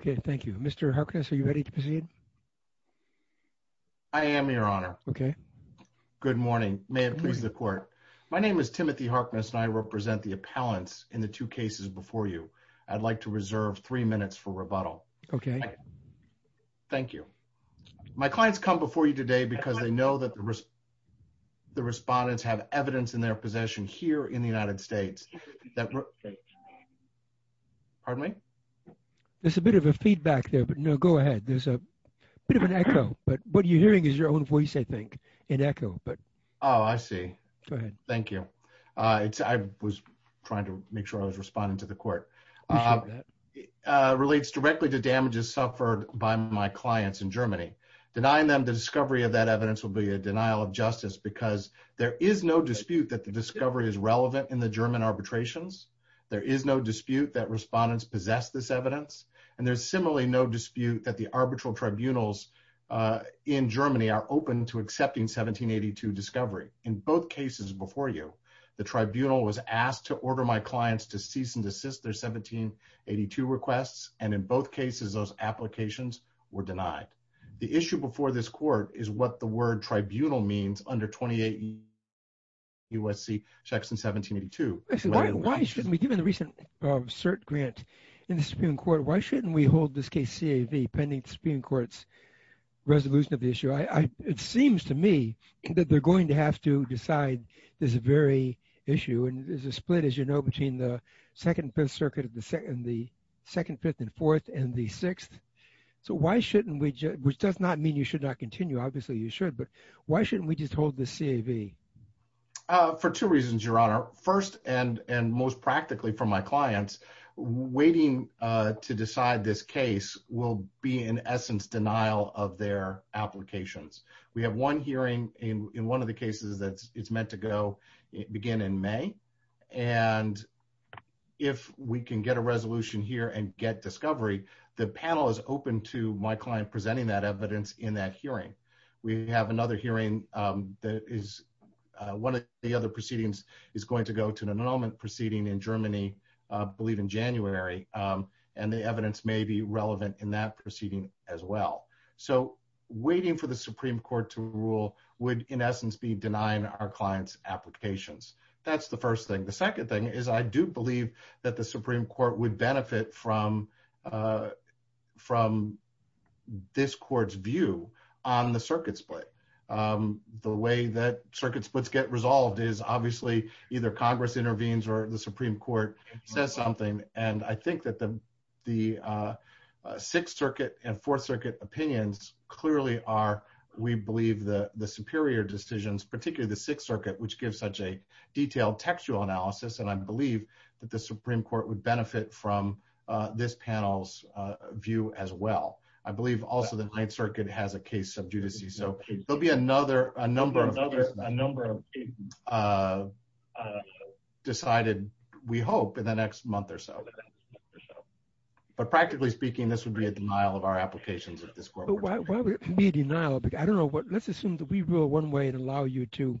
Okay, thank you. Mr. Harkness, are you ready to proceed? I am, Your Honor. Okay. Good morning. May it please the Court. My name is Timothy Harkness, and I represent the appellants in the two cases before you. I'd like to reserve three minutes for rebuttal. Okay. Thank you. My clients come before you today because they know that the respondents have evidence in their possession here in the United States that... Pardon me? There's a bit of a feedback there, but no, go ahead. There's a bit of an echo, but what you're hearing is your own voice, I think, and echo, but... Oh, I see. Go ahead. Thank you. I was trying to make sure I was responding to the Court. I'm sure of that. Relates directly to damages suffered by my clients in Germany. Denying them the discovery of that evidence will be a denial of justice because there is no dispute that the discovery is relevant in the German arbitrations. There is no dispute that respondents possess this evidence, and there's similarly no dispute that the arbitral tribunals in Germany are open to accepting 1782 discovery. In both cases before you, the tribunal was asked to order my clients to cease and desist their 1782 requests, and in both cases, those applications were denied. The issue before this Court is what the word tribunal means under 28 U.S.C. checks in 1782. Why shouldn't we, given the recent cert grant in the Supreme Court, why shouldn't we hold this case CAV pending the Supreme Court's resolution of the issue? It seems to me that they're going to have to decide this very issue, and there's a split, as you know, between the Second and Fifth Circuit and the Second, Fifth, and Fourth, and the Sixth. So why shouldn't we, which does not mean you should not continue, obviously you should, but why shouldn't we just hold this CAV? For two reasons, Your Honor. First, and most practically for my clients, waiting to decide this case will be in essence denial of their applications. We have one hearing in one of the cases that it's meant to go, begin in May, and if we can get a resolution here and get discovery, the panel is open to my client presenting that evidence in that hearing. We have another hearing that is one of the other proceedings is going to go to an annulment proceeding in Germany, I believe in January, and the evidence may be relevant in that proceeding as well. So waiting for the Supreme Court to rule would in essence be denying our clients' applications. That's the first thing. The second thing is I do believe that the Supreme Court would benefit from the circuit split. The way that circuit splits get resolved is obviously either Congress intervenes or the Supreme Court says something, and I think that the Sixth Circuit and Fourth Circuit opinions clearly are, we believe, the superior decisions, particularly the Sixth Circuit, which gives such a detailed textual analysis, and I believe that the Supreme Court would benefit from this panel's view as well. I don't know what else you see. So there'll be a number of cases decided, we hope, in the next month or so. But practically speaking, this would be a denial of our applications at this court. Why would it be a denial? I don't know. Let's assume that we rule one way and allow you to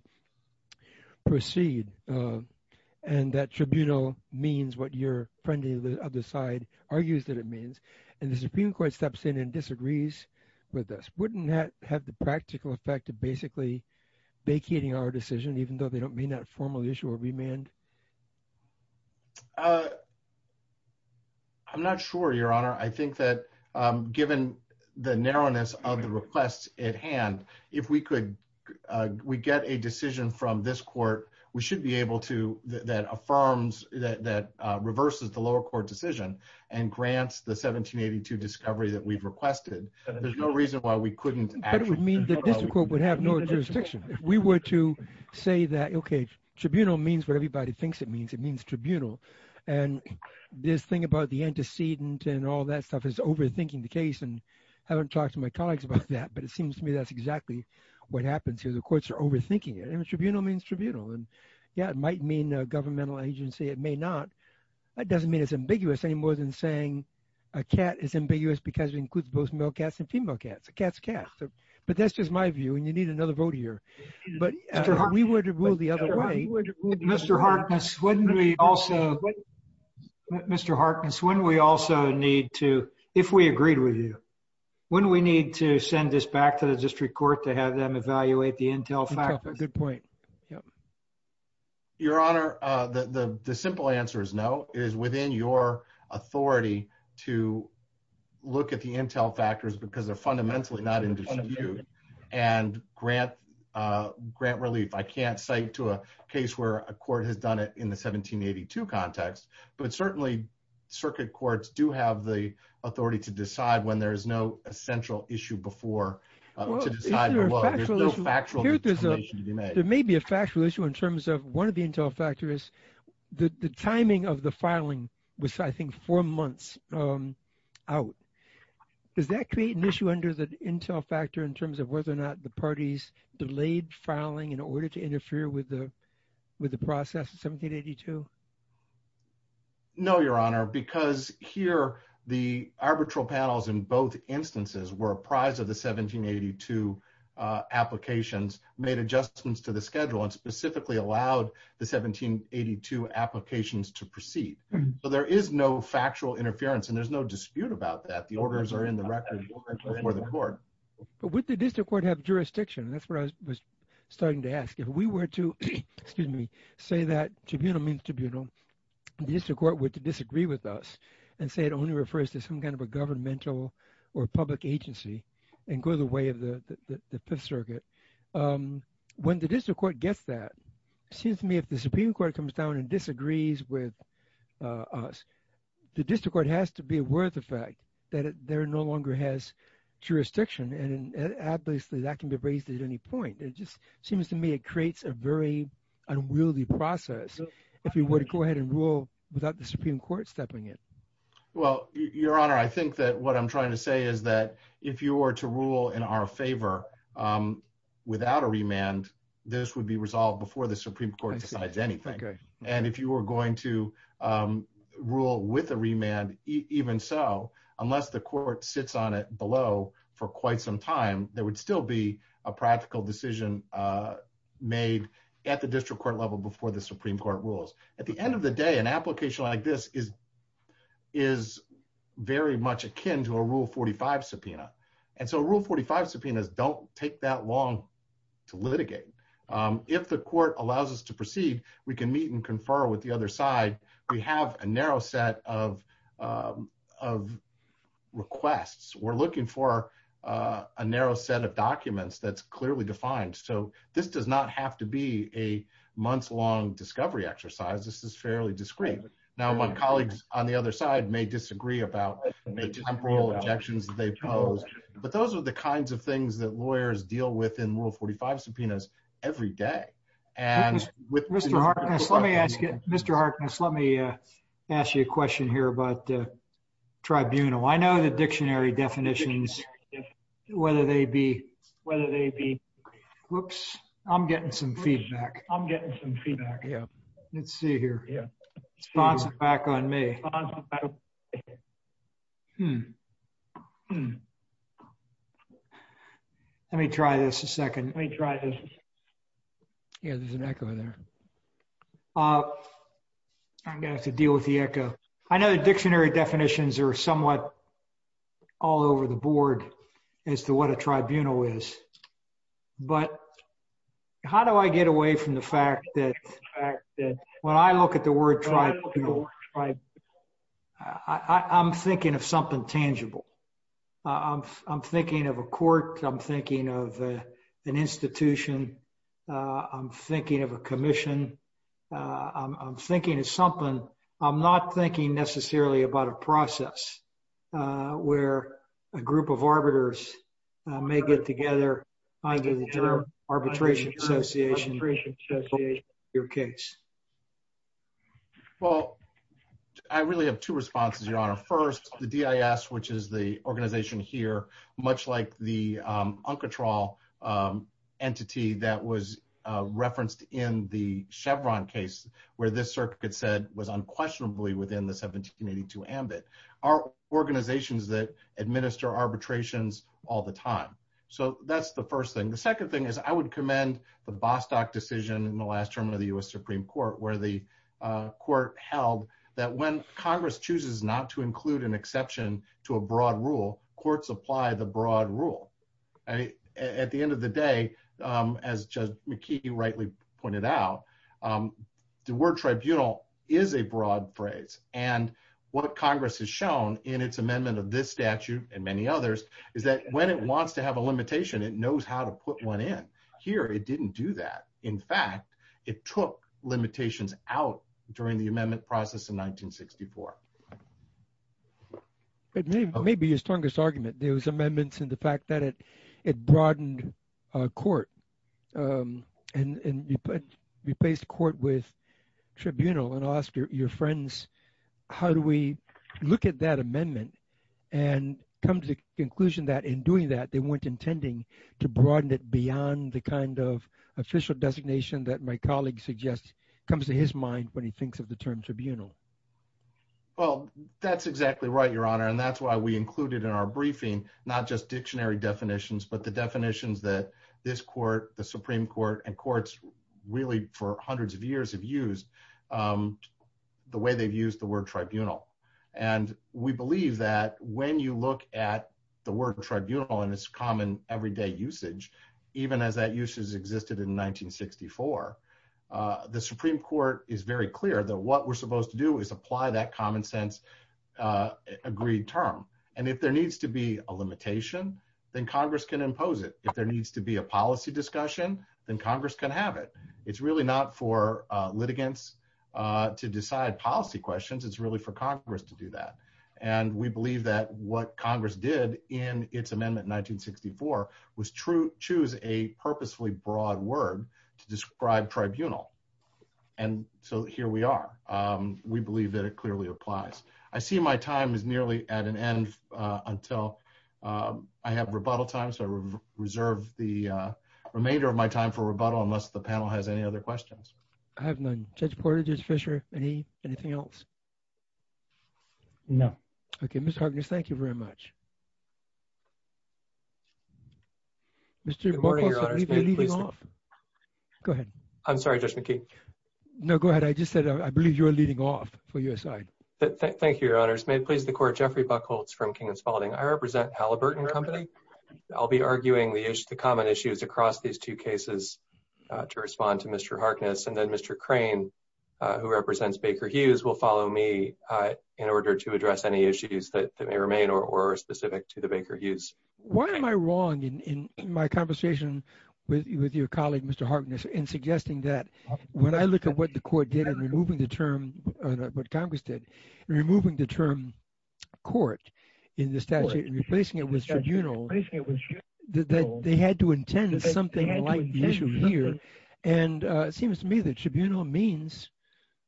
proceed, and that tribunal means what your friend on the other side argues that it means, and the Supreme Court steps in and disagrees with us. Wouldn't that have the practical effect of basically vacating our decision, even though they may not formally issue a remand? I'm not sure, Your Honor. I think that given the narrowness of the request at hand, if we could, we get a decision from this court, we should be able to, that affirms, that reverses the lower court decision, and grants the 1782 discovery that we've requested. There's no reason why we couldn't actually- But it would mean the district court would have no jurisdiction. If we were to say that, okay, tribunal means what everybody thinks it means, it means tribunal. And this thing about the antecedent and all that stuff is overthinking the case, and I haven't talked to my colleagues about that, but it seems to me that's exactly what happens here. The courts are overthinking it. Tribunal means tribunal. And yeah, it might mean a governmental agency. It may not. That doesn't mean it's ambiguous any more than saying a cat is ambiguous because it includes both male cats and female cats. A cat's a cat. But that's just my view, and you need another vote here. But we would rule the other way. Mr. Harkness, wouldn't we also, Mr. Harkness, wouldn't we also need to, if we agreed with you, wouldn't we need to send this back to the district court to have them evaluate the intel factors? That's a good point. Yep. Your Honor, the simple answer is no. It is within your authority to look at the intel factors because they're fundamentally not indisputable and grant relief. I can't cite to a case where a court has done it in the 1782 context, but certainly circuit courts do have the authority to decide when there is no essential issue before to decide below. There may be a factual issue in terms of one of the intel factors. The timing of the filing was, I think, four months out. Does that create an issue under the intel factor in terms of whether or not the parties delayed filing in order to interfere with the process of 1782? No, Your Honor, because here the arbitral panels in both instances were apprised of the 1782 applications, made adjustments to the schedule, and specifically allowed the 1782 applications to proceed. So there is no factual interference and there's no dispute about that. The orders are in the record before the court. But would the district court have jurisdiction? That's what I was starting to ask. If we were to say that tribunal means tribunal, the district court would disagree with us and say it only refers to some kind of a governmental or public agency and go the way of the Fifth Circuit. When the district court gets that, it seems to me if the Supreme Court comes down and disagrees with us, the district court has to be aware of the fact that there no longer has jurisdiction and obviously that can be raised at any point. It just seems to me it creates a very unwieldy process if we were to go ahead and rule without the Supreme Court stepping in. Well, Your Honor, I think that what I'm trying to say is that if you were to rule in our favor without a remand, this would be resolved before the Supreme Court decides anything. And if you were going to rule with a remand, even so, unless the court sits on it below for quite some time, there would still be a practical decision made at the district court level before the Supreme Court rules. At the end of the day, an application like this is very much akin to a Rule 45 subpoena. And so Rule 45 subpoenas don't take that long to litigate. If the court allows us to proceed, we can meet and confer with the other side. We have a narrow set of requests. We're looking for a narrow set of documents that's clearly defined. So this does not have to be a month-long discovery exercise. This is fairly discreet. Now, my colleagues on the other side may disagree about the temporal objections that they pose. But those are the kinds of things that lawyers deal with in Rule 45 subpoenas every day. And with Mr. Harkness, let me ask you a question here about the tribunal. I know the dictionary definitions, whether they be, whoops, I'm getting some feedback. Let's see here. Let me try this a second. Yeah, there's an echo there. I'm going to have to deal with the echo. I know the dictionary definitions are somewhat all over the board as to what a tribunal is. But how do I get away from the fact that when I look at the word tribunal, I'm thinking of something tangible. I'm thinking of a court. I'm thinking of an institution. I'm thinking of a commission. I'm thinking of something. I'm not thinking necessarily about a process where a group of arbiters may get together under the term arbitration association. Well, I really have two responses, Your Honor. First, the DIS, which is the organization here, much like the UNCATROL entity that was referenced in the Chevron case where this circuit said was unquestionably within the 1782 ambit, are organizations that administer arbitrations all the time. So that's the first thing. The second thing is I would commend the Bostock decision in the last term of the U.S. Supreme Court where the court held that when Congress chooses not to include an exception to a broad rule, courts apply the broad rule. At the end of the day, as Judge McKee rightly pointed out, the word tribunal is a broad phrase. And what Congress has shown in its amendment of this statute and many others is that when it wants to have a limitation, it knows how to put one in. Here, it didn't do that. In fact, it took limitations out during the amendment process in 1964. It may be your strongest argument. There was amendments in the fact that it broadened court and replaced court with tribunal and asked your friends, how do we look at that amendment and come to the conclusion that in doing that, they weren't intending to broaden it beyond the official designation that my colleague suggests comes to his mind when he thinks of the term tribunal? Well, that's exactly right, Your Honor. And that's why we included in our briefing, not just dictionary definitions, but the definitions that this court, the Supreme Court, and courts really for hundreds of years have used the way they've used the word tribunal. And we believe that when you look at the word tribunal and its common everyday usage, even as that usage existed in 1964, the Supreme Court is very clear that what we're supposed to do is apply that common sense agreed term. And if there needs to be a limitation, then Congress can impose it. If there needs to be a policy discussion, then Congress can have it. It's really not for litigants to decide policy questions. It's really for Congress to do that. And we believe that what Congress did in its amendment 1964 was choose a purposefully broad word to describe tribunal. And so here we are. We believe that it clearly applies. I see my time is nearly at an end until I have rebuttal time. So I reserve the remainder of my time for rebuttal unless the panel has any other questions. I have none. Judge Portage, Judge Fischer, anything else? No. Okay, Mr. Harkness, thank you very much. Mr. Buchholz, I believe you're leading off. Go ahead. I'm sorry, Judge McKee. No, go ahead. I just said I believe you're leading off for your side. Thank you, Your Honors. May it please the Court, Jeffrey Buchholz from King & Spalding. I represent Halliburton Company. I'll be arguing the common issues across these two cases to respond to Mr. Harkness. And then Mr. Crane, who represents Baker Hughes, will follow me in order to address any issues that may remain or are specific to the Baker Hughes. Why am I wrong in my conversation with your colleague, Mr. Harkness, in suggesting that when I look at what the Court did in removing the term, what Congress did, removing the term court in the statute and replacing it with tribunal, that they had to intend something like the issue here. And it seems to me that tribunal means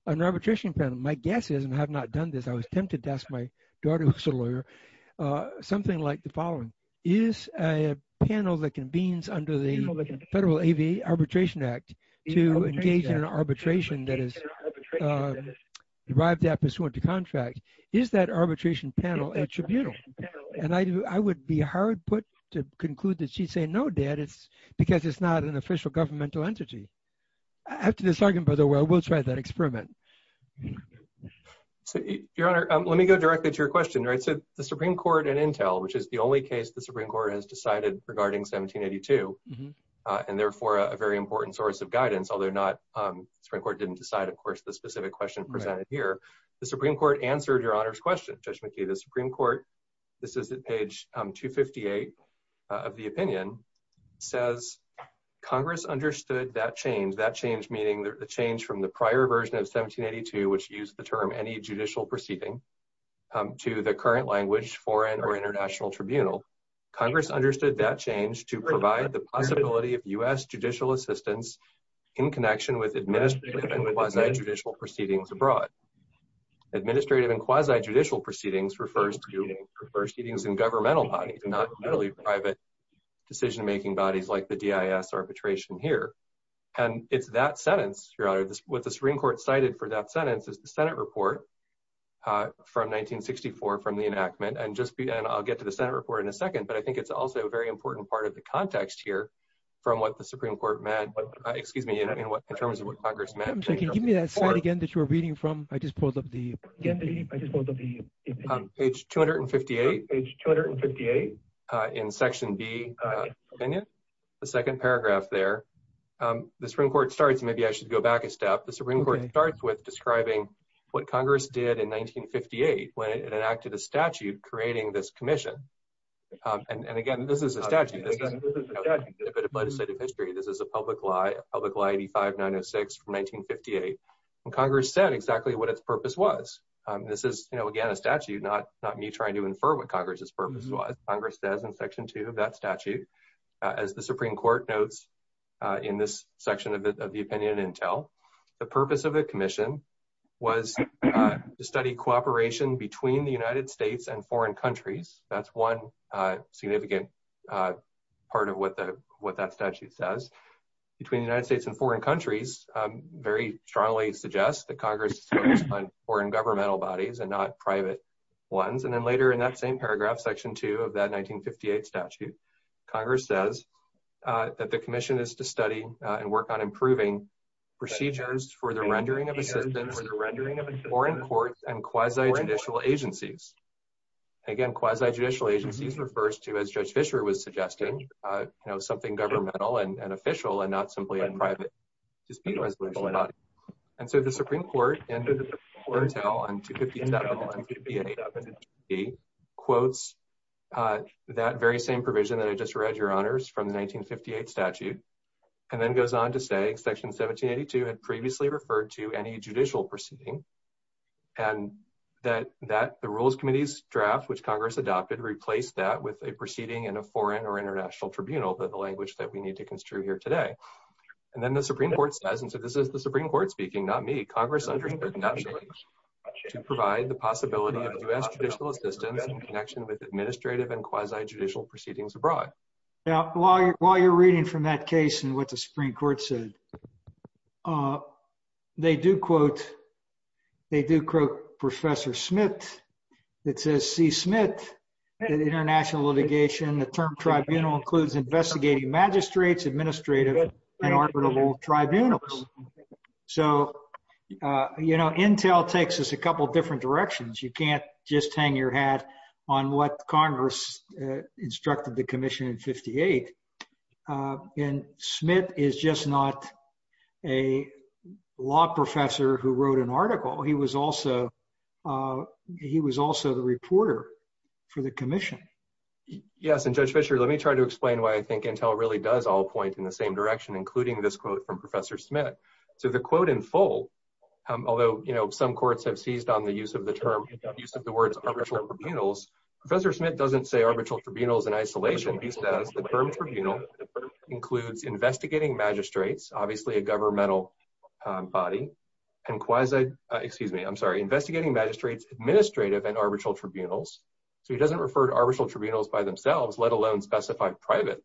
an arbitration panel. My guess is, and I have not done this, I was tempted to ask my daughter, who's a lawyer, something like the following. Is a panel that convenes under the Federal A.V. Arbitration Act to engage in an arbitration that is derived that pursuant to the Federal A.V. Arbitration Act. And the Supreme Court, of course, didn't decide the specific question presented here. The Supreme Court answered Your Honor's question, Judge McKee. The Supreme Court, this is at page 258 of the opinion, says Congress understood that change, that change meaning the change from the prior version of 1782, which used the term any judicial proceeding, to the current language, foreign or international tribunal. Congress understood that change to provide the possibility of U.S. judicial assistance in connection with administrative and quasi-judicial proceedings refers to proceedings in governmental bodies and not really private decision-making bodies like the D.I.S. arbitration here. And it's that sentence, Your Honor, what the Supreme Court cited for that sentence is the Senate report from 1964 from the enactment. And I'll get to the Senate report in a second, but I think it's also a very important part of the context here from what the Supreme Court meant, excuse me, in terms of what Congress meant. Give me that slide again that you were reading from. I just pulled up the... Page 258 in section B, opinion, the second paragraph there. The Supreme Court starts, maybe I should go back a step. The Supreme Court starts with describing what Congress did in 1958 when it enacted a statute creating this commission. And again, this is a statute, a bit of legislative history. This is a public lie, public lie 85-906 from 1958. Congress said exactly what its purpose was. This is, again, a statute, not me trying to infer what Congress' purpose was. Congress says in section two of that statute, as the Supreme Court notes in this section of the opinion and tell, the purpose of a commission was to study cooperation between the United States and foreign countries. That's one significant part of what that statute says. Between the United States and foreign countries very strongly suggests that Congress is focused on foreign governmental bodies and not private ones. And then later in that same paragraph, section two of that 1958 statute, Congress says that the commission is to study and work on improving procedures for the rendering of assistance, foreign courts, and quasi-judicial agencies. Again, quasi-judicial agencies refers to, as Judge Fischer was suggesting, you know, something governmental and official and not simply a private dispute resolution. And so the Supreme Court in the foretell on 258.1 and 258.7 and 258.8 quotes that very same provision that I just read, Your Honors, from the 1958 statute, and then goes on to say section 1782 had previously referred to any judicial proceeding and that the Rules Committee's draft, which Congress adopted, replaced that with a proceeding in a foreign or international tribunal, the language that we need to construe here today. And then the Supreme Court says, and so this is the Supreme Court speaking, not me, Congress understood naturally to provide the possibility of U.S. judicial assistance in connection with administrative and quasi-judicial proceedings abroad. Now, while you're reading from that case and what the Supreme Court said, they do quote, they do quote Professor Smith that says, C. Smith, in international litigation, the term tribunal includes investigating magistrates, administrative, and arbitrable tribunals. So, you know, intel takes us a couple different directions. You can't just hang your hat on what Congress instructed the commission in 58. And Smith is just not a law professor who wrote an article. He was also the reporter for the commission. Yes, and Judge Fischer, let me try to explain why I think intel really does all point in the same direction, including this quote from Professor Smith. So the quote in full, although, you know, some courts have seized on the use of the words arbitral tribunals, Professor Smith doesn't say arbitral tribunals in isolation. He says the term tribunal includes investigating magistrates, obviously a governmental body, and quasi, excuse me, I'm sorry, investigating magistrates, administrative, and arbitral tribunals. So he doesn't refer to arbitral tribunals by themselves, let alone specify private.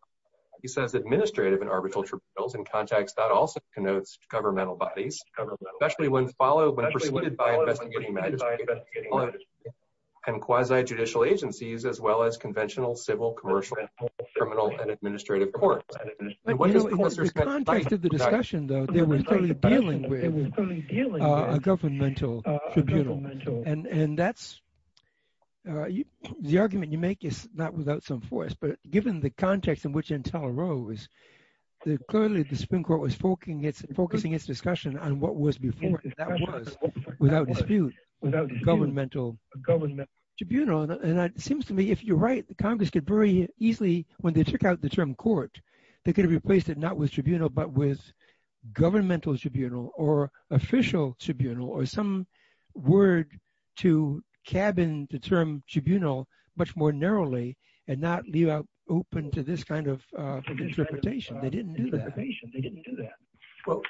He says administrative and arbitral tribunals in context that also connotes governmental bodies, especially when followed by investigating magistrates and quasi-judicial agencies as well as conventional, civil, commercial, criminal, and administrative courts. In the context of the discussion, though, they were clearly dealing with a governmental tribunal. And that's the argument you make is not without some force. But given the context in which intel arose, clearly the Supreme Court was focusing its discussion on what was before, and that was, without dispute, a governmental tribunal. And it seems to me, if you're right, the Congress could very easily, when they took out the term court, they could have replaced it not with tribunal, but with governmental tribunal, or official tribunal, or some word to cabin the term of interpretation. They didn't do that. They didn't do that. Well,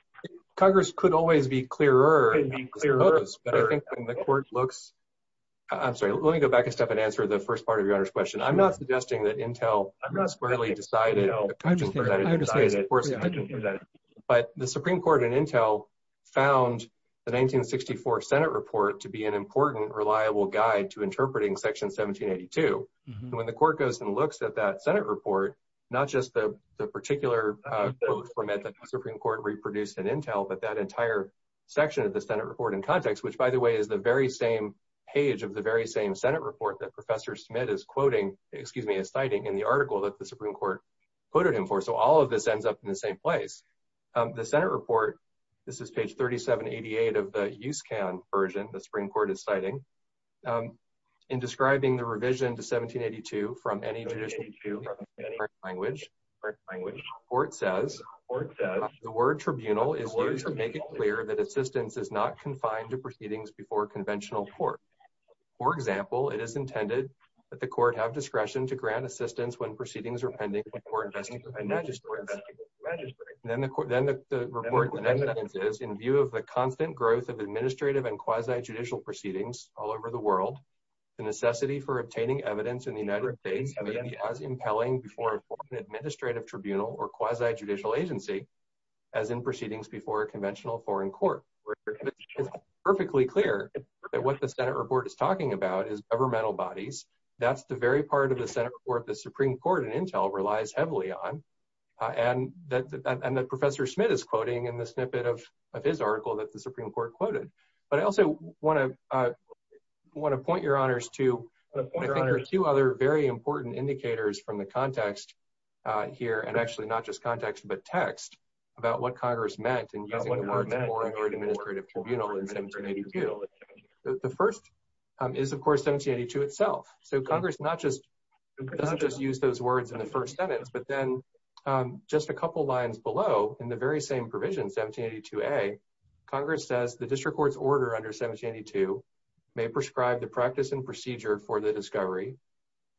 Congress could always be clearer. But I think when the court looks, I'm sorry, let me go back a step and answer the first part of your Honor's question. I'm not suggesting that intel squarely decided. But the Supreme Court and intel found the 1964 Senate report to be an important, reliable guide to interpreting Section 1782. And when the court goes and looks at that particular quote from it, the Supreme Court reproduced an intel, but that entire section of the Senate report in context, which by the way, is the very same page of the very same Senate report that Professor Smith is quoting, excuse me, is citing in the article that the Supreme Court quoted him for. So all of this ends up in the same place. The Senate report, this is page 3788 of the USCAN version the Supreme Court is citing. In describing the revision to 1782 from any foreign language, the court says, the word tribunal is used to make it clear that assistance is not confined to proceedings before conventional court. For example, it is intended that the court have discretion to grant assistance when proceedings are pending before investigating the magistrates. And then the court, then the report is in view of the constant growth of administrative and quasi-judicial proceedings all over the world, the necessity for obtaining evidence in the United States as impelling before an administrative tribunal or quasi-judicial agency as in proceedings before a conventional foreign court. It's perfectly clear that what the Senate report is talking about is governmental bodies. That's the very part of the Senate report the Supreme Court in intel relies heavily on. And that Professor Smith is quoting in the snippet of his article that the Supreme Court quoted. But I also want to point your honors to two other very important indicators from the context here and actually not just context but text about what Congress meant in using the words foreign or administrative tribunal in 1782. The first is of course 1782 itself. So Congress not just doesn't just use those words in the first sentence but then just a couple lines below in the very same provision 1782a, Congress says the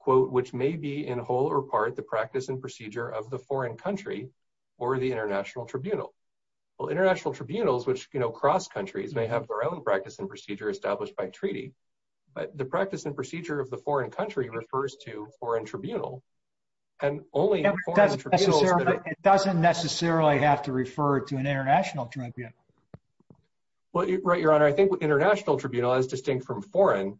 quote which may be in whole or part the practice and procedure of the foreign country or the international tribunal. Well international tribunals which you know cross countries may have their own practice and procedure established by treaty but the practice and procedure of the foreign country refers to foreign tribunal and only it doesn't necessarily have to refer to an international tribunal. Well right your honor I think international tribunal is distinct from foreign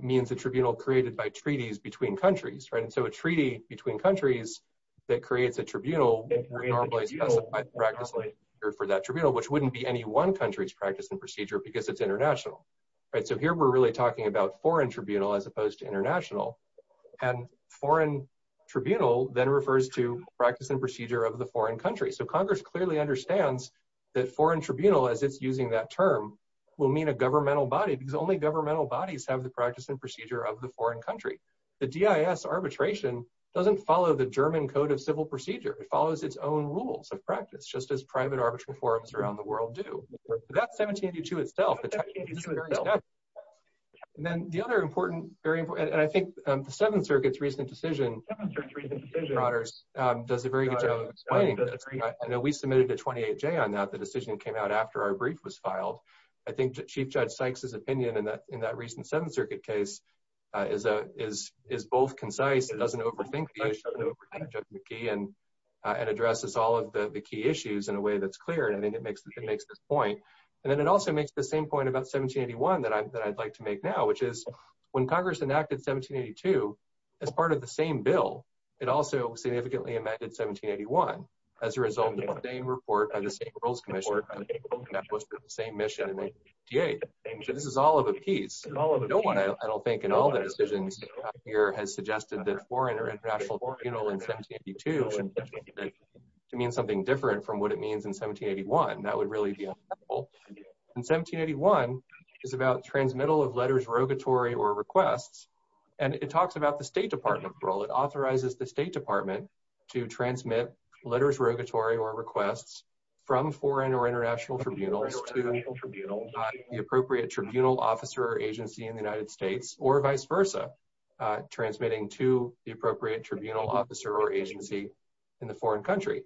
means the tribunal created by treaties between countries right. And so a treaty between countries that creates a tribunal normally specified practically for that tribunal which wouldn't be any one country's practice and procedure because it's international right. So here we're really talking about foreign tribunal as opposed to international and foreign tribunal then refers to practice and procedure of the foreign country. So Congress clearly understands that foreign tribunal as it's using that term will mean a governmental body because only governmental bodies have the practice and procedure of the foreign country. The DIS arbitration doesn't follow the German code of civil procedure. It follows its own rules of practice just as private arbitration forums around the world do. That's 1782 itself. And then the other important very important and I think the seventh circuit's recent decision does a very good job explaining that. I know we submitted a 28j on that the decision came out after our brief was filed. I think Chief Judge Sykes's opinion in that in that recent seventh circuit case is both concise it doesn't overthink the issue and addresses all of the key issues in a way that's clear and I think it makes it makes this point. And then it also makes the same point about 1781 that I'd like to make now which is when Congress enacted 1782 as part of the same bill it also significantly amended 1781 as a result of the same report by the same commission that was for the same mission in 1888. So this is all of a piece. No one I don't think in all the decisions here has suggested that foreign or international or you know in 1782 to mean something different from what it means in 1781. That would really be in 1781 is about transmittal of letters rogatory or requests and it talks about the state department authorizes the state department to transmit letters rogatory or requests from foreign or international tribunals to the appropriate tribunal officer or agency in the United States or vice versa transmitting to the appropriate tribunal officer or agency in the foreign country.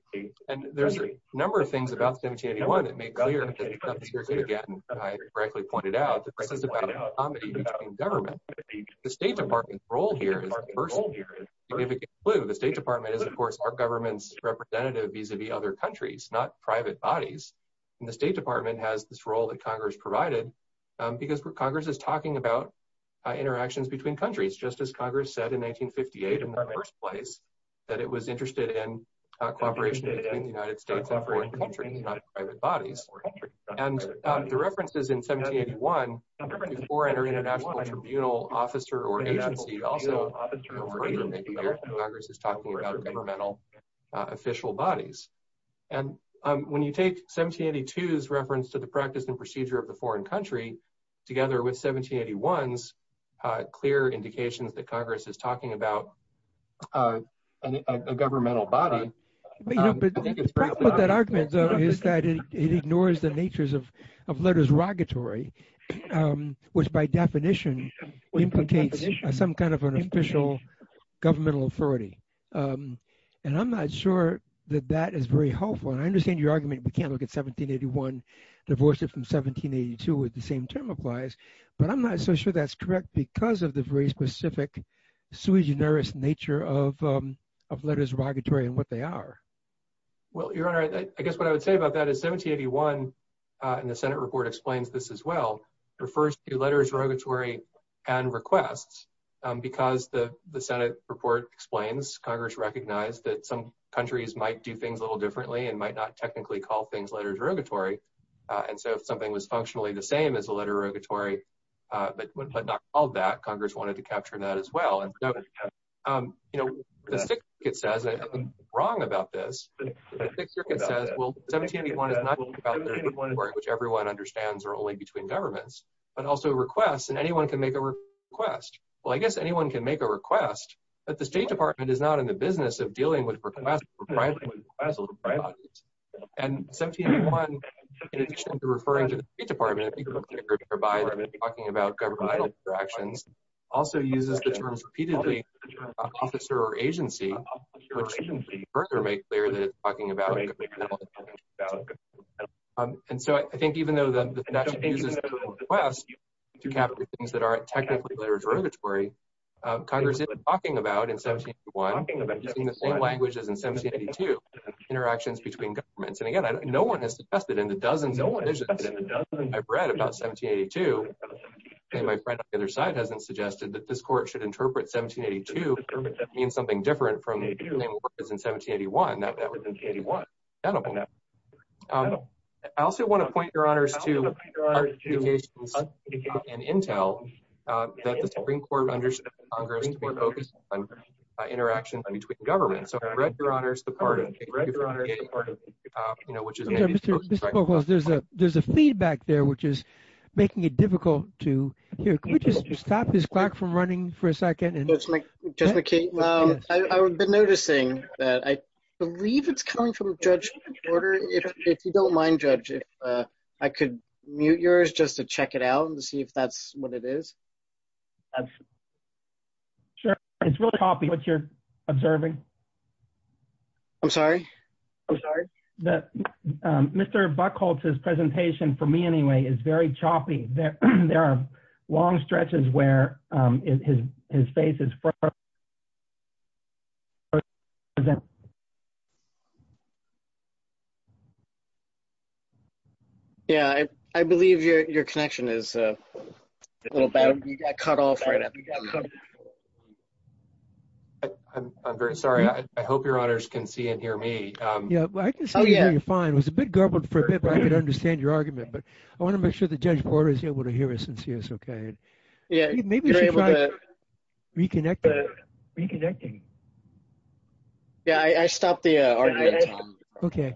And there's a number of things about 1781 that make clear again I correctly pointed out that this is about a comedy between government. The state department's role here is the first significant clue. The state department is of course our government's representative vis-a-vis other countries not private bodies and the state department has this role that Congress provided because Congress is talking about interactions between countries just as Congress said in 1958 in the first place that it was interested in cooperation between the United States and foreign bodies. And the references in 1781 foreign or international tribunal officer or agency also Congress is talking about governmental official bodies. And when you take 1782's reference to the practice and procedure of the foreign country together with 1781's clear indications that it ignores the natures of of letters rogatory which by definition implicates some kind of an official governmental authority. And I'm not sure that that is very helpful and I understand your argument we can't look at 1781 divorce it from 1782 with the same term applies but I'm not so sure that's correct because of the very specific sui generis nature of letters rogatory and what they are. Well your honor I guess what I would say about that is 1781 and the senate report explains this as well refers to letters rogatory and requests because the the senate report explains Congress recognized that some countries might do things a little differently and might not technically call things letters rogatory. And so if something was functionally the same as a letter rogatory but but not called that Congress wanted to capture that as well and um you know the stick it says I'm wrong about this the thick circuit says well 1781 is not which everyone understands are only between governments but also requests and anyone can make a request well I guess anyone can make a request but the state department is not in the business of dealing with requests and 1781 in addition to referring to the state department by talking about governmental interactions also uses the terms repeatedly officer or agency which further make clear that it's talking about and so I think even though the nation uses requests to capture things that aren't technically letters rogatory Congress isn't talking about in 1781 using the same language as in 1782 interactions between governments and again no one has suggested in the dozens of read about 1782 and my friend on the other side hasn't suggested that this court should interpret 1782 means something different from what it is in 1781. I also want to point your honors to our communications and intel that the Supreme Court understood Congress to be focused on interactions between governments so I read your honors the part of you know which is there's a there's a feedback there which is making it difficult to hear can we just stop this clock from running for a second and that's just okay I've been noticing that I believe it's coming from Judge Porter if you don't mind judge if I could mute yours just to check it out and see if that's what it is. Sure it's really copy what you're observing I'm sorry I'm sorry that Mr. Buchholz's presentation for me anyway is very choppy there there are long stretches where his face is yeah I believe your connection is a little bad you got cut off right now I'm very sorry I hope your honors can see and hear me yeah I can see you're fine it was a bit garbled for a bit but I could understand your argument but I want to make sure that Judge Porter is able to hear us and see us okay yeah maybe you're able to reconnect reconnecting yeah I stopped the argument okay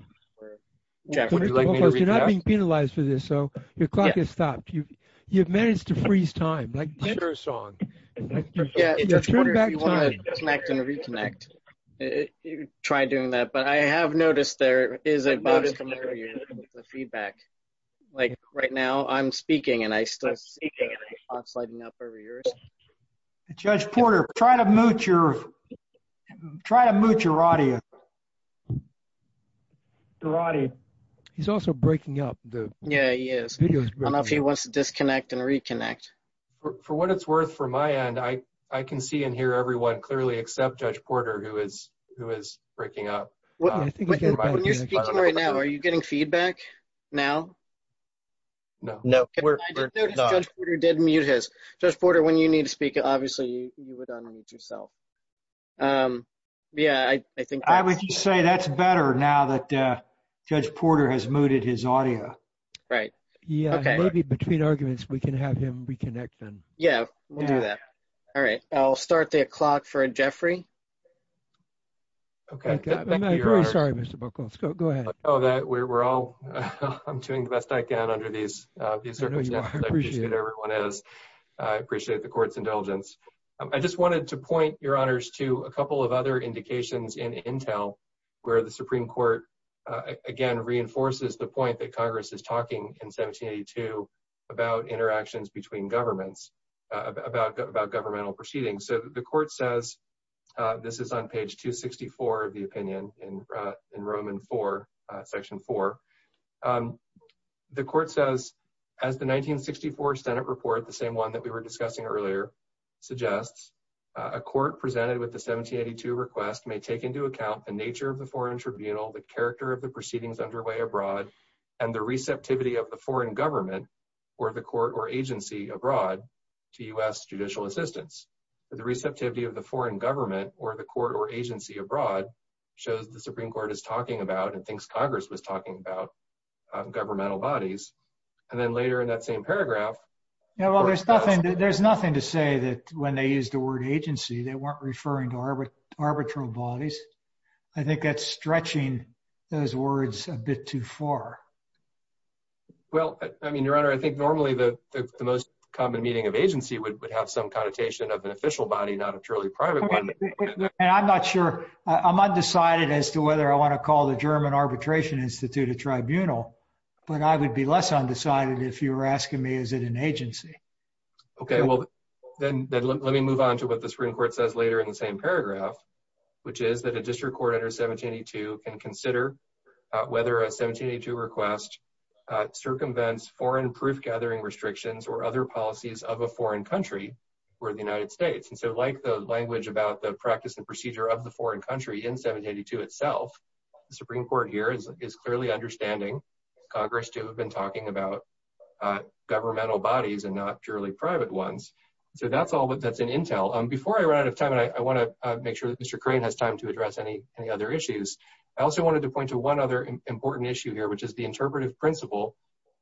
you're not being penalized for this so your clock has stopped you have managed to freeze time like sure song yeah connect and reconnect you try doing that but I have noticed there is a feedback like right now I'm speaking and I still see the clock sliding up over yours Judge Porter try to mute your try to mute your audio he's also breaking up the yeah he is I don't know if he wants to disconnect and reconnect for what it's worth for my end I I can see and hear everyone clearly except Judge Porter who is who is breaking up when you're speaking right now are you getting feedback now no no we're not you did mute his Judge Porter when you need to speak obviously you would unmute yourself um yeah I think I would just say that's better now that uh Judge Porter has muted his audio right yeah okay maybe between arguments we can have him reconnect them yeah we'll do that all right I'll start the clock for Jeffrey okay I'm very sorry Mr. Buckles go ahead oh that we're all I'm doing the best I can under these uh these circumstances I appreciate everyone is I appreciate the court's indulgence I just wanted to point your honors to a couple of other indications in intel where the Supreme Court again reinforces the point that Congress is talking in 1782 about interactions between governments about about governmental proceedings so the court says this is on page 264 of the opinion in uh in Roman 4 uh section 4 um the court says as the 1964 senate report the same one that we were discussing earlier suggests a court presented with the 1782 request may take into account the nature of the foreign tribunal the character of the proceedings underway abroad and the receptivity of the foreign government or the court or agency abroad to U.S. judicial assistance the receptivity of the foreign government or the court or agency abroad shows the Supreme Court is talking about and thinks Congress was talking about uh governmental bodies and then later in that same paragraph you know well there's nothing there's nothing to say that when they used the word agency they weren't referring to our arbitral bodies I think that's stretching those words a bit too far well I mean your honor I think normally the the most common meaning of agency would have some connotation of an official body not a truly private one and I'm not sure I'm undecided as to whether I want to call the German Arbitration Institute a tribunal but I would be less undecided if you were asking me is it an agency okay well then let me move on to what the Supreme Court says later in the same paragraph which is that a district court under 1782 can consider whether a 1782 request uh circumvents foreign proof gathering restrictions or other policies of a foreign country or the United States and so like the language about the practice and procedure of the foreign country in 1782 itself the Supreme Court here is clearly understanding Congress to have been talking about uh governmental bodies and not purely private ones so that's all but that's an intel um before I run out of time and I want to make sure that Mr. Crane has time to address any any other issues I also wanted to point to one other important issue here which is the interpretive principle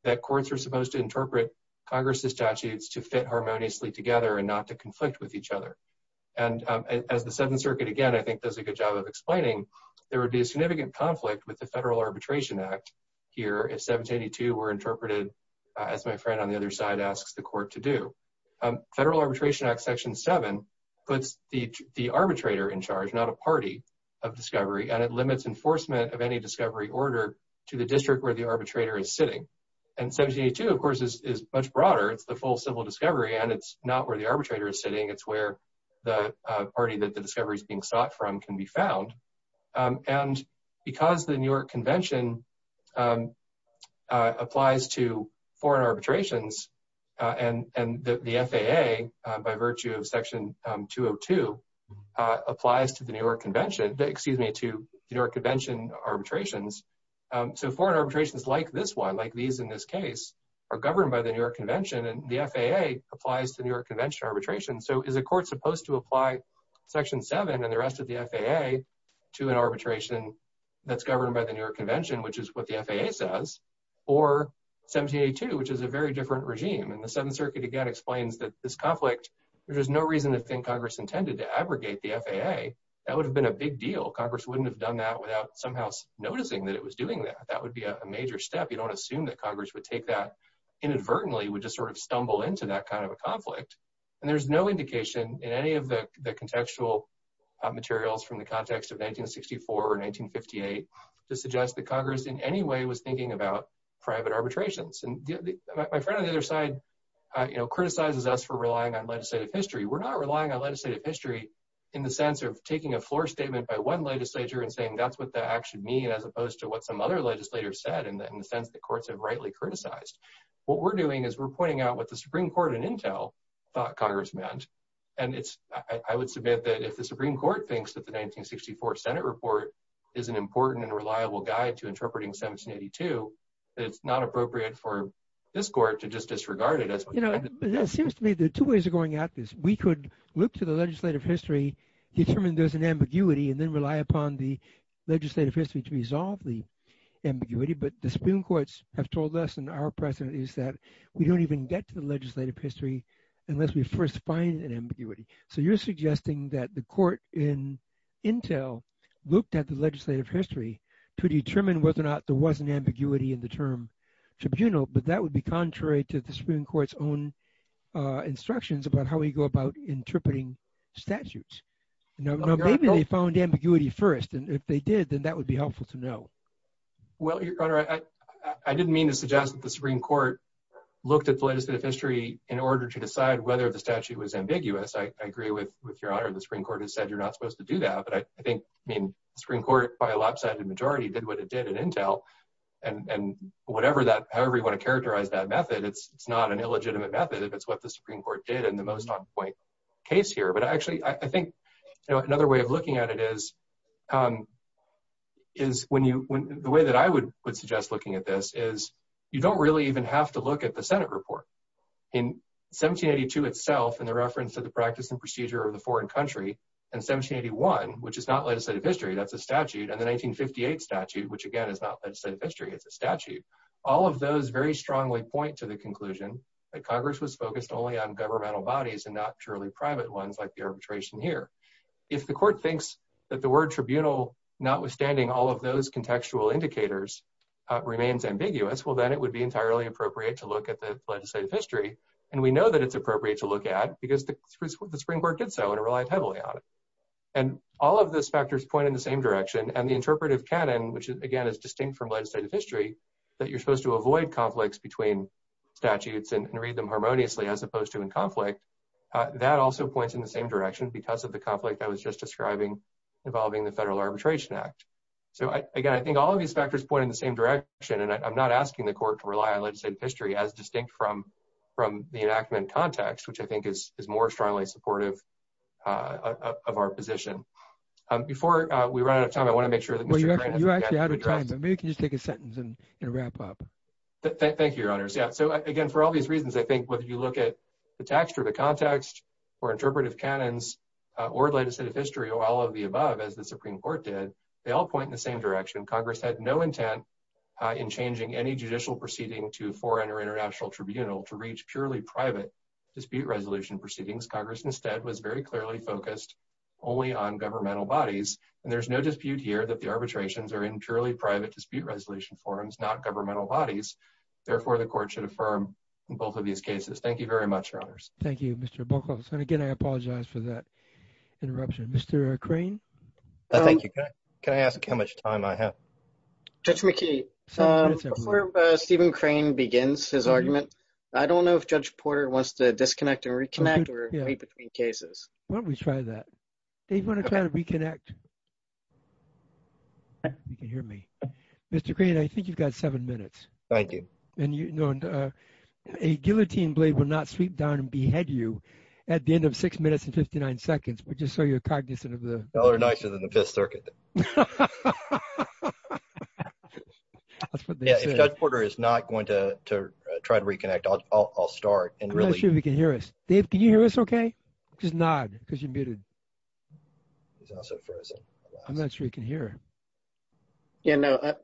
that courts are supposed to interpret Congress's statutes to fit harmoniously together and not to conflict with each other and um as the Seventh Circuit again I think does a good job of explaining there would be a significant conflict with the Federal Arbitration Act here if 1782 were interpreted as my friend on the other side asks the court to do um Federal Arbitration Act section 7 puts the the arbitrator in charge not a party of discovery and it limits enforcement of any discovery order to the district where the arbitrator is sitting and 1782 of course is much broader it's the full civil discovery and it's not where the arbitrator is sitting it's where the party that the discovery is being sought from can be found and because the New York Convention applies to foreign arbitrations and and the FAA by virtue of section 202 applies to the New York Convention excuse me to the New York Convention arbitrations so foreign arbitrations like this one like these in this case are governed by the New York Convention and the FAA applies to New York Convention arbitration so is a court supposed to apply section 7 and the rest of the FAA to an arbitration that's governed by the New York Convention which is what the FAA says or 1782 which is a very different regime and the Seventh Circuit again explains that this conflict there's no reason to think Congress intended to abrogate the FAA that would have been a big deal Congress wouldn't have done that without somehow noticing that it was doing that that would be a major step you don't assume that Congress would take that inadvertently would just sort of stumble into that kind of a conflict and there's no indication in any of the contextual materials from the context of 1964 or 1958 to suggest that Congress in any way was thinking about private arbitrations and my friend on the other side you know criticizes us for relying on legislative history we're not relying on legislative history in the sense of taking a floor statement by one legislature and saying that's what the act should as opposed to what some other legislators said in the sense that courts have rightly criticized what we're doing is we're pointing out what the Supreme Court in intel thought Congress meant and it's I would submit that if the Supreme Court thinks that the 1964 senate report is an important and reliable guide to interpreting 1782 that it's not appropriate for this court to just disregard it as you know it seems to me there are two ways of going at this we could look to the legislative history determine there's an ambiguity and then rely upon the legislative history to resolve the ambiguity but the Supreme Courts have told us and our precedent is that we don't even get to the legislative history unless we first find an ambiguity so you're suggesting that the court in intel looked at the legislative history to determine whether or not there was an ambiguity in the term tribunal but that would be contrary to the Supreme Court's own instructions about how we go about interpreting statutes you know maybe they found ambiguity first and if they did then that would be helpful to know well your honor I didn't mean to suggest that the Supreme Court looked at the legislative history in order to decide whether the statute was ambiguous I agree with with your honor the Supreme Court has said you're not supposed to do that but I think I mean Supreme Court by a lopsided majority did what it did in intel and and whatever that however you want to characterize that method it's it's not an illegitimate method if it's what the Supreme Court did in the most on point case here but actually I think you know another way of looking at it is um is when you when the way that I would would suggest looking at this is you don't really even have to look at the senate report in 1782 itself in the reference to the practice and procedure of the foreign country and 1781 which is not legislative history that's a statute and the 1958 statute which again is not legislative history it's a statute all of those very strongly point to the conclusion that congress was focused only on governmental bodies and not purely private ones like the arbitration here if the court thinks that the word tribunal notwithstanding all of those contextual indicators remains ambiguous well then it would be entirely appropriate to look at the legislative history and we know that it's appropriate to look at because the the Supreme Court did so and it relied heavily on it and all of those factors point in the same direction and the interpretive canon which again is distinct from legislative history that you're supposed to avoid conflicts between statutes and read them harmoniously as opposed to in conflict that also points in the same direction because of the conflict I was just describing involving the federal arbitration act so I again I think all of these factors point in the same direction and I'm not asking the court to rely on legislative history as distinct from from the enactment context which I think is is more strongly supportive uh of our position um before uh we run out of time I want to make sure that well you're actually out of time maybe just take a sentence and wrap up thank you your honors yeah so again for all these reasons I think whether you look at the text or the context or interpretive canons or legislative history or all of the above as the Supreme Court did they all point in the same direction Congress had no intent in changing any judicial proceeding to foreign or international tribunal to reach purely private dispute resolution proceedings Congress instead was very clearly focused only on governmental bodies and there's no dispute here that the arbitrations are in purely private dispute resolution forums not governmental bodies therefore the court should affirm both of these cases thank you very much your honors thank you Mr. Buckles and again I apologize for that interruption Mr. Crane thank you can I ask how much time I have Judge McKee um before uh Stephen Crane begins his argument I don't know if Judge Porter wants to disconnect and reconnect or try that they want to try to reconnect you can hear me Mr. Crane I think you've got seven minutes thank you and you know uh a guillotine blade will not sweep down and behead you at the end of six minutes and 59 seconds but just so you're cognizant of the well they're nicer than the fifth circuit yeah if Judge Porter is not going to to try to reconnect I'll start and really we can hear us Dave can you hear us okay just nod because you're muted he's also frozen I'm not sure you can hear yeah no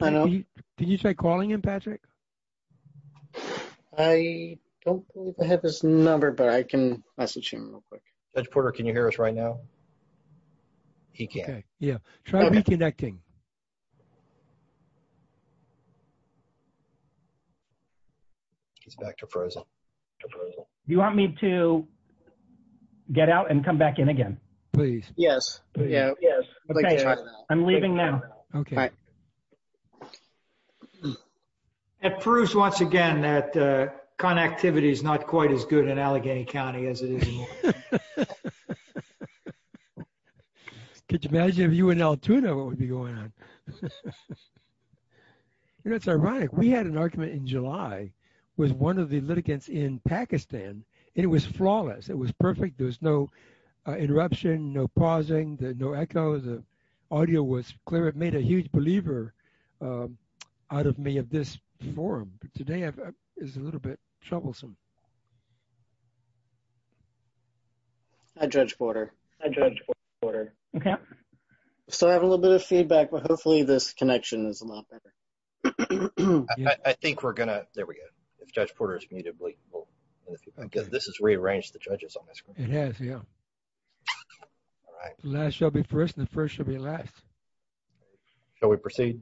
I know can you try calling him Patrick I don't believe I have his number but I can message him real quick Judge Porter can you hear us right now he can't yeah try reconnecting he's back to frozen you want me to get out and come back in again please yes yeah yes I'm leaving now okay it proves once again that uh connectivity is not quite as good in Allegheny County as it is could you imagine if you and L2 know what would be going on you know it's ironic we had an argument in July was one of the litigants in Pakistan and it was flawless it was perfect there was no interruption no pausing no echoes of audio was clear it made a huge believer um out of me of this forum today is a little bit troublesome hi Judge Porter hi Judge Porter okay so I have a little bit of feedback but hopefully this connection is a lot better I think we're gonna there we go if Judge Porter is muted I guess this has rearranged the judges on my screen it has yeah all right last shall be first and the first shall be last shall we proceed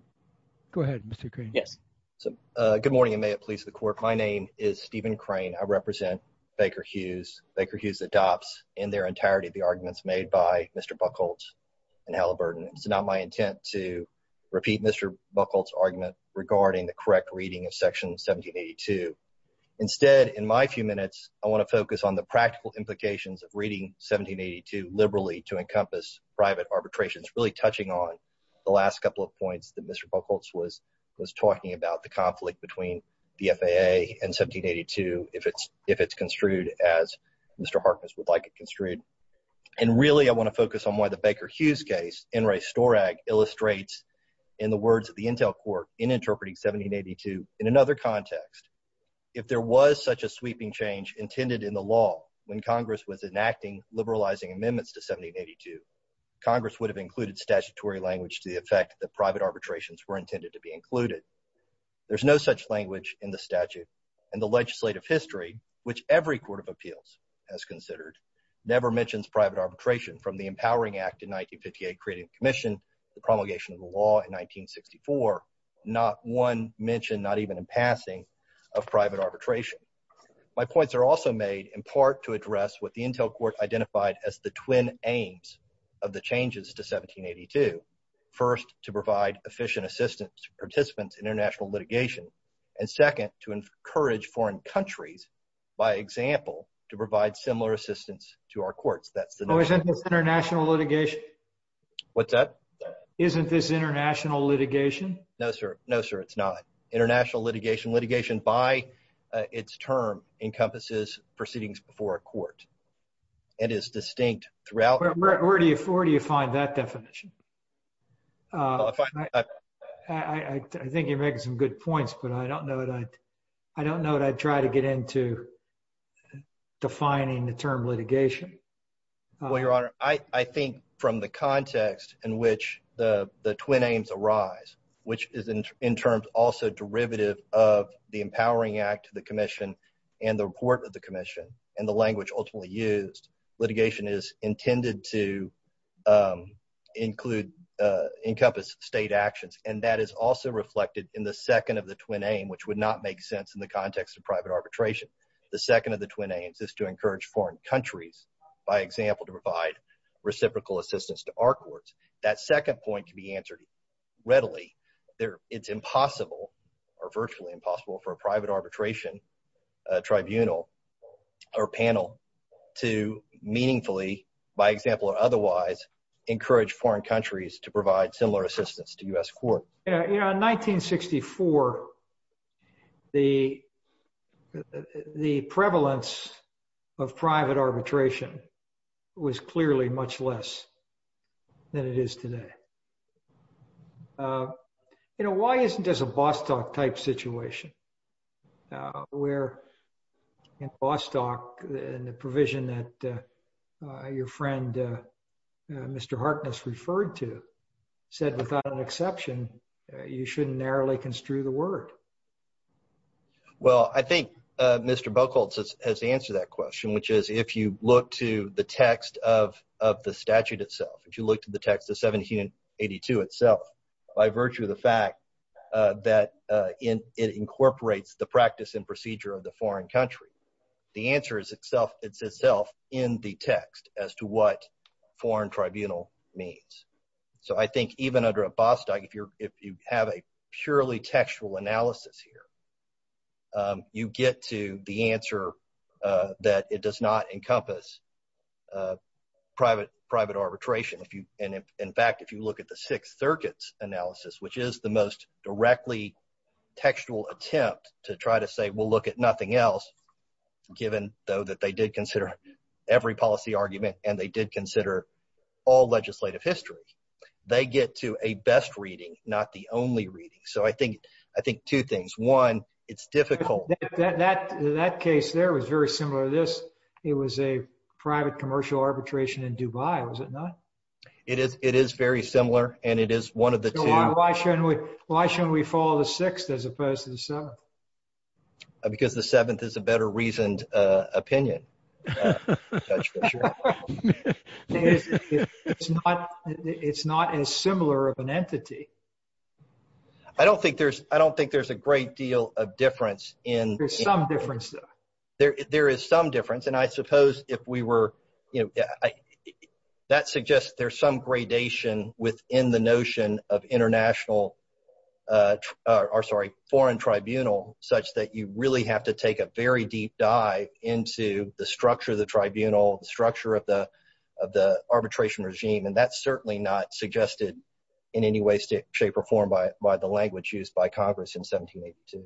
go ahead Mr. Crane yes so uh good morning and may it please the court my name is Stephen Crane I represent Baker Hughes Baker Hughes adopts in their entirety the arguments made by Mr. Buchholz in Halliburton it's not my intent to repeat Mr. Buchholz argument regarding the correct reading of section 1782 instead in my few minutes I want to focus on the practical implications of reading 1782 liberally to encompass private arbitrations really touching on the last couple of points that Mr. Buchholz was was talking about the conflict between the FAA and 1782 if it's if it's construed as Mr. Harkness would like it construed and really I want to focus on why the Baker Hughes case N. Ray Storag illustrates in the words of the Intel court in interpreting 1782 in another context if there was such a sweeping change intended in the law when Congress was enacting liberalizing amendments to 1782 Congress would have included statutory language to the effect that private arbitrations were intended to be included there's no such language in the statute and the legislative history which every court of appeals has considered never mentions private arbitration from the empowering act in 1958 creating commission the promulgation of the law in 1964 not one mention not even in passing of private arbitration my points are also made in part to address what the Intel court identified as the twin aims of the changes to 1782 first to provide efficient assistance to participants in international litigation and second to encourage foreign countries by example to provide similar assistance to our courts that's the international litigation what's that isn't this international litigation no sir no sir it's not international litigation litigation by its term encompasses proceedings before a court and is distinct throughout where do you where do you find that definition uh I think you're making some good points but I don't know that I don't know that I'd try to get into defining the term litigation well your honor I I think from the context in which the the twin aims arise which is in terms also derivative of the empowering act to the commission and the report of the commission and the language ultimately used litigation is intended to um include uh encompass state actions and that is also reflected in the second of the twin aim which would not make sense in the context of private arbitration the second of the twin aims is to encourage foreign countries by example to provide reciprocal assistance to our courts that second point can be answered readily there it's impossible or virtually impossible for a private arbitration uh tribunal or panel to meaningfully by example or otherwise encourage foreign countries to provide similar assistance to u.s court you know in 1964 the the prevalence of private arbitration was clearly much less than it is today uh you know why isn't this a bostock type situation uh where in bostock and the provision that uh your friend uh mr harkness referred to said without an exception you shouldn't narrowly construe the word well I think uh Mr. Buchholz has answered that question which is if you look to the text of of the statute itself if you look to the text of 1782 itself by virtue of the fact uh that uh in it incorporates the practice and procedure of the foreign country the answer is itself it's itself in the text as to what foreign tribunal means so I think even under a bostock if you're if you have a purely textual analysis here um you get to the answer uh that it does not encompass uh private private arbitration if you and in fact if you look at the six circuits analysis which is the most directly textual attempt to try to say we'll look at nothing else given though that they did consider every policy argument and they did consider all legislative history they get to a best reading not the only reading so I think I think two things one it's difficult that that that case there was very similar to this it was a private commercial arbitration in Dubai was it not it is it is very similar and it is one of the two why shouldn't we why shouldn't we follow the sixth as opposed to the seventh because the seventh is a better reasoned uh opinion it's not it's not as similar of an entity I don't think there's I don't think there's a great deal of difference in there's some difference though there there is some difference and I suppose if we were you know that suggests there's some gradation within the notion of international uh or sorry foreign tribunal such that you really have to take a very deep dive into the structure of the tribunal the structure of the of the arbitration regime and that's certainly not suggested in any way shape or form by by the language used by congress in 1782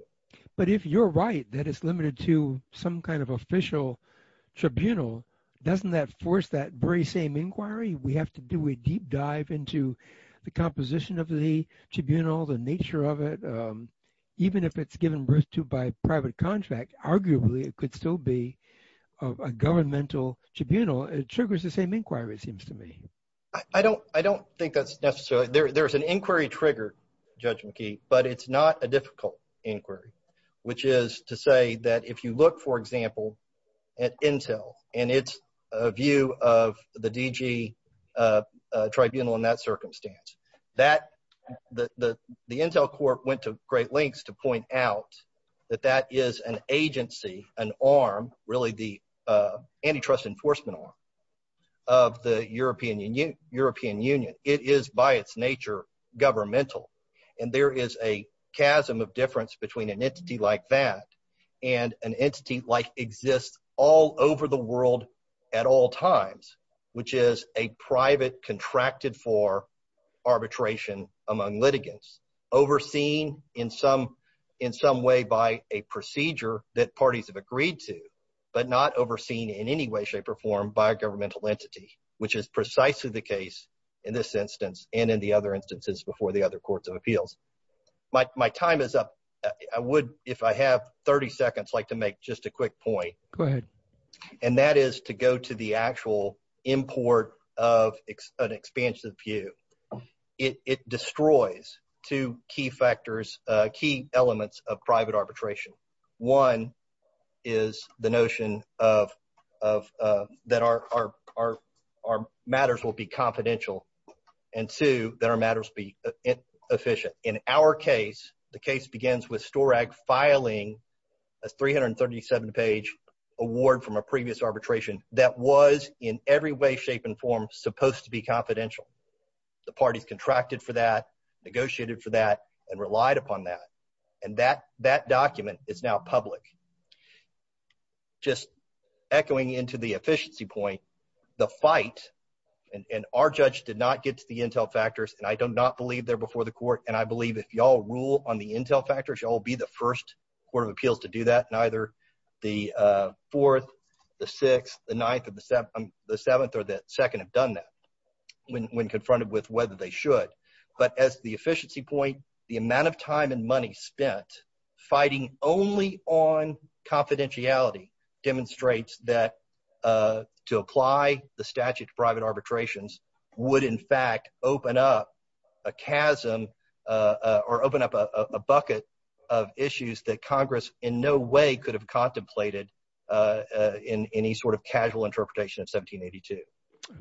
but if you're right that it's limited to some kind of official tribunal doesn't that force that very same inquiry we have to do a deep dive into the composition of the tribunal the nature of it even if it's given birth to by private contract arguably it could still be of a governmental tribunal it triggers the same inquiry seems to me I don't I don't think that's necessarily there there's an inquiry trigger Judge McKee but it's not a difficult inquiry which is to say that if you look for example at intel and it's a view of the DG uh tribunal in that circumstance that the the intel court went to great lengths to point out that that is an agency an arm really the uh antitrust enforcement of the european union european union it is by its nature governmental and there is a chasm of difference between an entity like that and an entity like exists all over the world at all times which is a private contracted for arbitration among litigants overseeing in some in some way by a procedure that parties have agreed to but not overseen in any way shape or form by a governmental entity which is precisely the case in this instance and in the other instances before the other courts of appeals my time is up I would if I have 30 seconds like to make just a quick point go ahead and that is to go to the actual import of an expansion of view it it destroys two key factors uh key elements of private arbitration one is the notion of of uh that our our our matters will be confidential and two that our matters be efficient in our case the case begins with storag filing a 337 page award from a previous arbitration that was in every way shape and form supposed to be confidential the parties contracted for that negotiated for that and relied upon that and that that document is now public just echoing into the efficiency point the fight and our judge did not get to the intel factors and I do not believe they're before the court and I believe if y'all rule on the intel factors y'all be the first court of appeals to do that neither the uh fourth the sixth the ninth of the seventh the seventh or the second have done that when when confronted with whether they should but as the efficiency point the amount of time and money spent fighting only on confidentiality demonstrates that uh to apply the statute private arbitrations would in fact open up a chasm uh or open up a a bucket of issues that congress in no way could have contemplated uh in any sort of casual interpretation of 1782.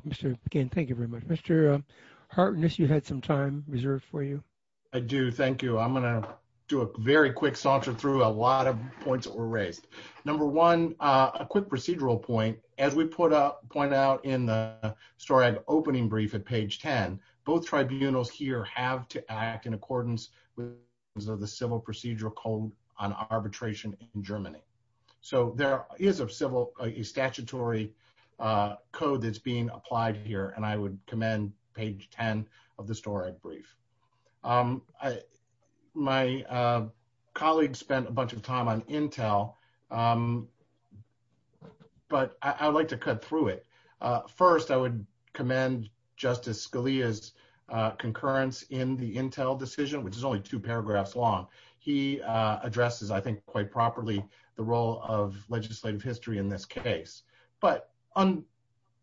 Mr. McCain, thank you very much. Mr. Harkness, you had some time reserved for you. I do, thank you. I'm going to do a very quick saunter through a lot of points that were raised. Number one, a quick procedural point as we put a point out in the storag opening brief at page 10 both tribunals here have to act in accordance with the civil procedural code on arbitration in Germany so there is a civil a statutory uh code that's being applied here and I would commend page 10 of the story brief um I my uh colleague spent a bunch of time on intel um but I would like to cut through it uh first I would commend justice Scalia's uh concurrence in the intel decision which is only two paragraphs long he uh addresses I think quite properly the role of legislative history in this case but on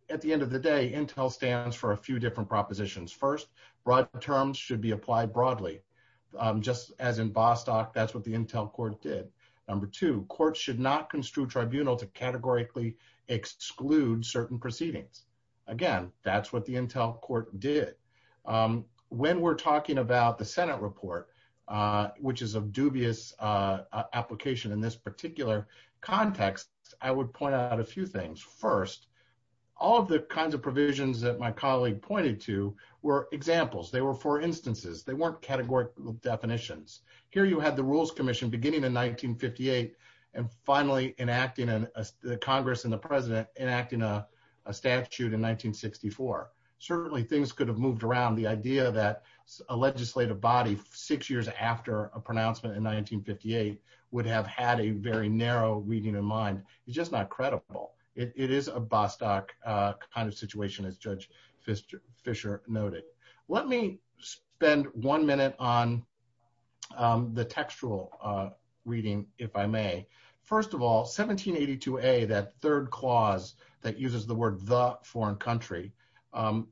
at the end of the day intel stands for a few different propositions first broad terms should be applied broadly um just as in bostock that's what the intel court did number two courts should not construe tribunal to categorically exclude certain proceedings again that's what the intel court did um when we're talking about the senate report uh which is a dubious uh application in this particular context I would point out a few things first all of the kinds of provisions that my colleague pointed to were examples they were for instances they weren't categorical definitions here you had the rules commission beginning in 1958 and finally enacting a congress and the president enacting a statute in 1964 certainly things could have moved around the idea that a legislative body six years after a pronouncement in 1958 would have had a very narrow reading in mind it's just not credible it is a bostock uh kind situation as judge fisher fisher noted let me spend one minute on um the textual uh reading if I may first of all 1782a that third clause that uses the word the foreign country um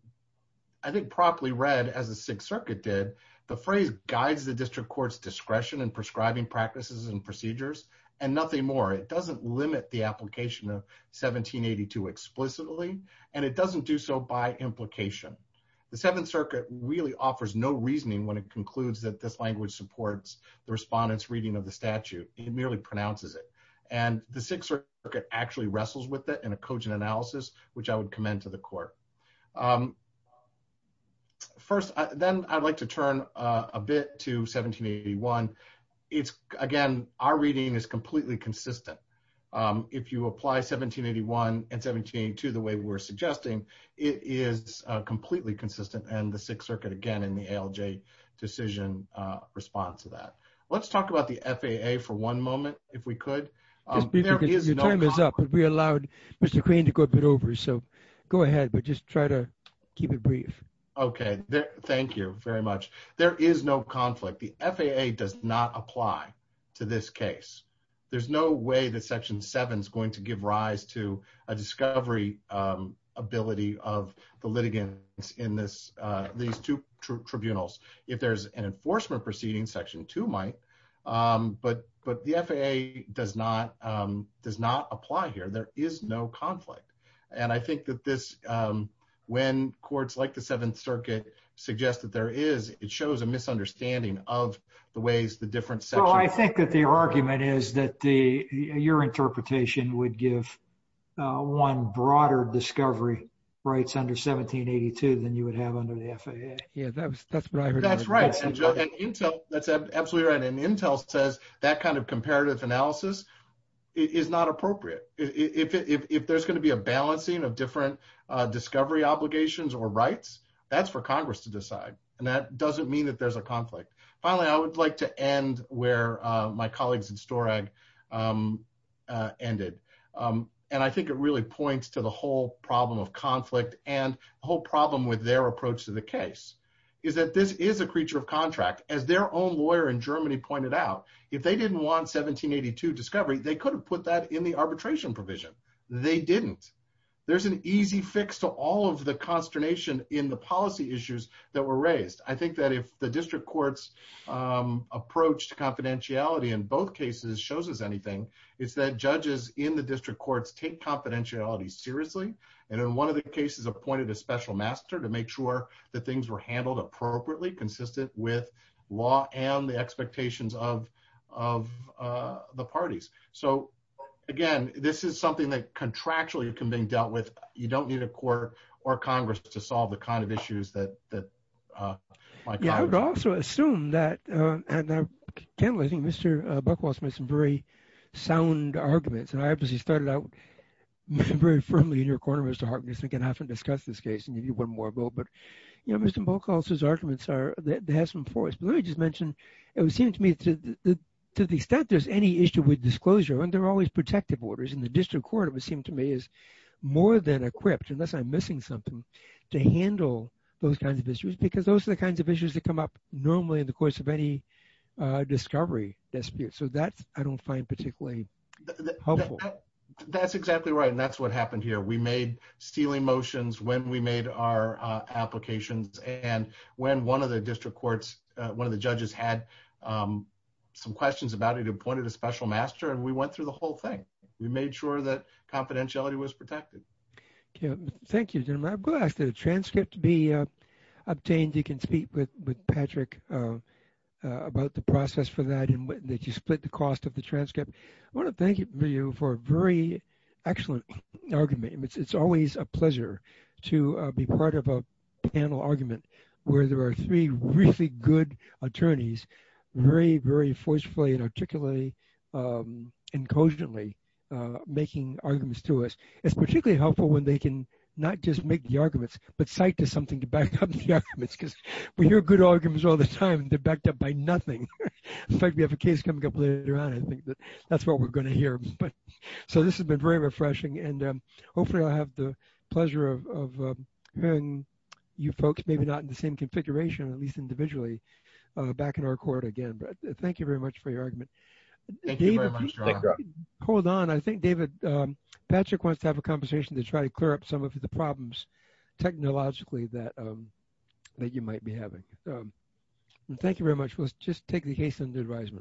I think properly read as the sixth circuit did the phrase guides the district court's discretion and prescribing practices and procedures and nothing more it doesn't limit the application of 1782 explicitly and it doesn't do so by implication the seventh circuit really offers no reasoning when it concludes that this language supports the respondents reading of the statute it merely pronounces it and the sixth circuit actually wrestles with it in a cogent analysis which I would commend to the court um first then I'd like to turn a bit to 1781 it's again our reading is to the way we're suggesting it is uh completely consistent and the sixth circuit again in the ALJ decision uh response to that let's talk about the FAA for one moment if we could we allowed mr queen to go a bit over so go ahead but just try to keep it brief okay thank you very much there is no conflict the FAA does not apply to this case there's no way that section 7 is a discovery um ability of the litigants in this uh these two tribunals if there's an enforcement proceeding section two might um but but the FAA does not um does not apply here there is no conflict and I think that this um when courts like the seventh circuit suggest that there is it shows a misunderstanding of the ways the different sections I think that the argument is that the your interpretation would give uh one broader discovery rights under 1782 than you would have under the FAA yeah that's that's right that's right and intel that's absolutely right and intel says that kind of comparative analysis is not appropriate if if there's going to be a balancing of different uh discovery obligations or rights that's for congress to decide and that doesn't mean that there's a conflict finally I would like to end where uh my colleagues in Storag ended um and I think it really points to the whole problem of conflict and the whole problem with their approach to the case is that this is a creature of contract as their own lawyer in Germany pointed out if they didn't want 1782 discovery they could have put that in the arbitration provision they didn't there's an easy fix to all of the consternation in the policy issues that were raised I think that if the district courts um approach to confidentiality in both cases shows us anything it's that judges in the district courts take confidentiality seriously and in one of the cases appointed a special master to make sure that things were handled appropriately consistent with law and the expectations of of uh the parties so again this is something that contractually can be dealt with you don't need a court or congress to solve the kind of issues that that uh yeah I would also assume that uh and I can't I think Mr. Buchholz made some very sound arguments and I obviously started out very firmly in your corner Mr. Harkness and can often discuss this case and give you one more vote but you know Mr. Buchholz his arguments are they have some force but let me just mention it would seem to me to the extent there's any issue with disclosure and they're always protective orders in the district court is more than equipped unless I'm missing something to handle those kinds of issues because those are the kinds of issues that come up normally in the course of any uh discovery dispute so that's I don't find particularly helpful that's exactly right and that's what happened here we made stealing motions when we made our uh applications and when one of the district courts uh one of the judges had um some questions about it appointed a special master and went through the whole thing we made sure that confidentiality was protected yeah thank you gentlemen I'm glad the transcript to be uh obtained you can speak with with Patrick uh about the process for that and that you split the cost of the transcript I want to thank you for a very excellent argument it's always a pleasure to be part of a panel argument where there are three really good attorneys very very forcefully and articulately um and cogently uh making arguments to us it's particularly helpful when they can not just make the arguments but cite to something to back up the arguments because we hear good arguments all the time they're backed up by nothing in fact we have a case coming up later on I think that that's what we're going to hear but so this has been very refreshing and um hopefully I'll have the pleasure of uh hearing you folks maybe not in the same configuration at least individually uh back in our court again but thank you very much for your argument hold on I think David um Patrick wants to have a conversation to try to clear up some of the problems technologically that um that you might be having um thank you very much let's just take the case under advisement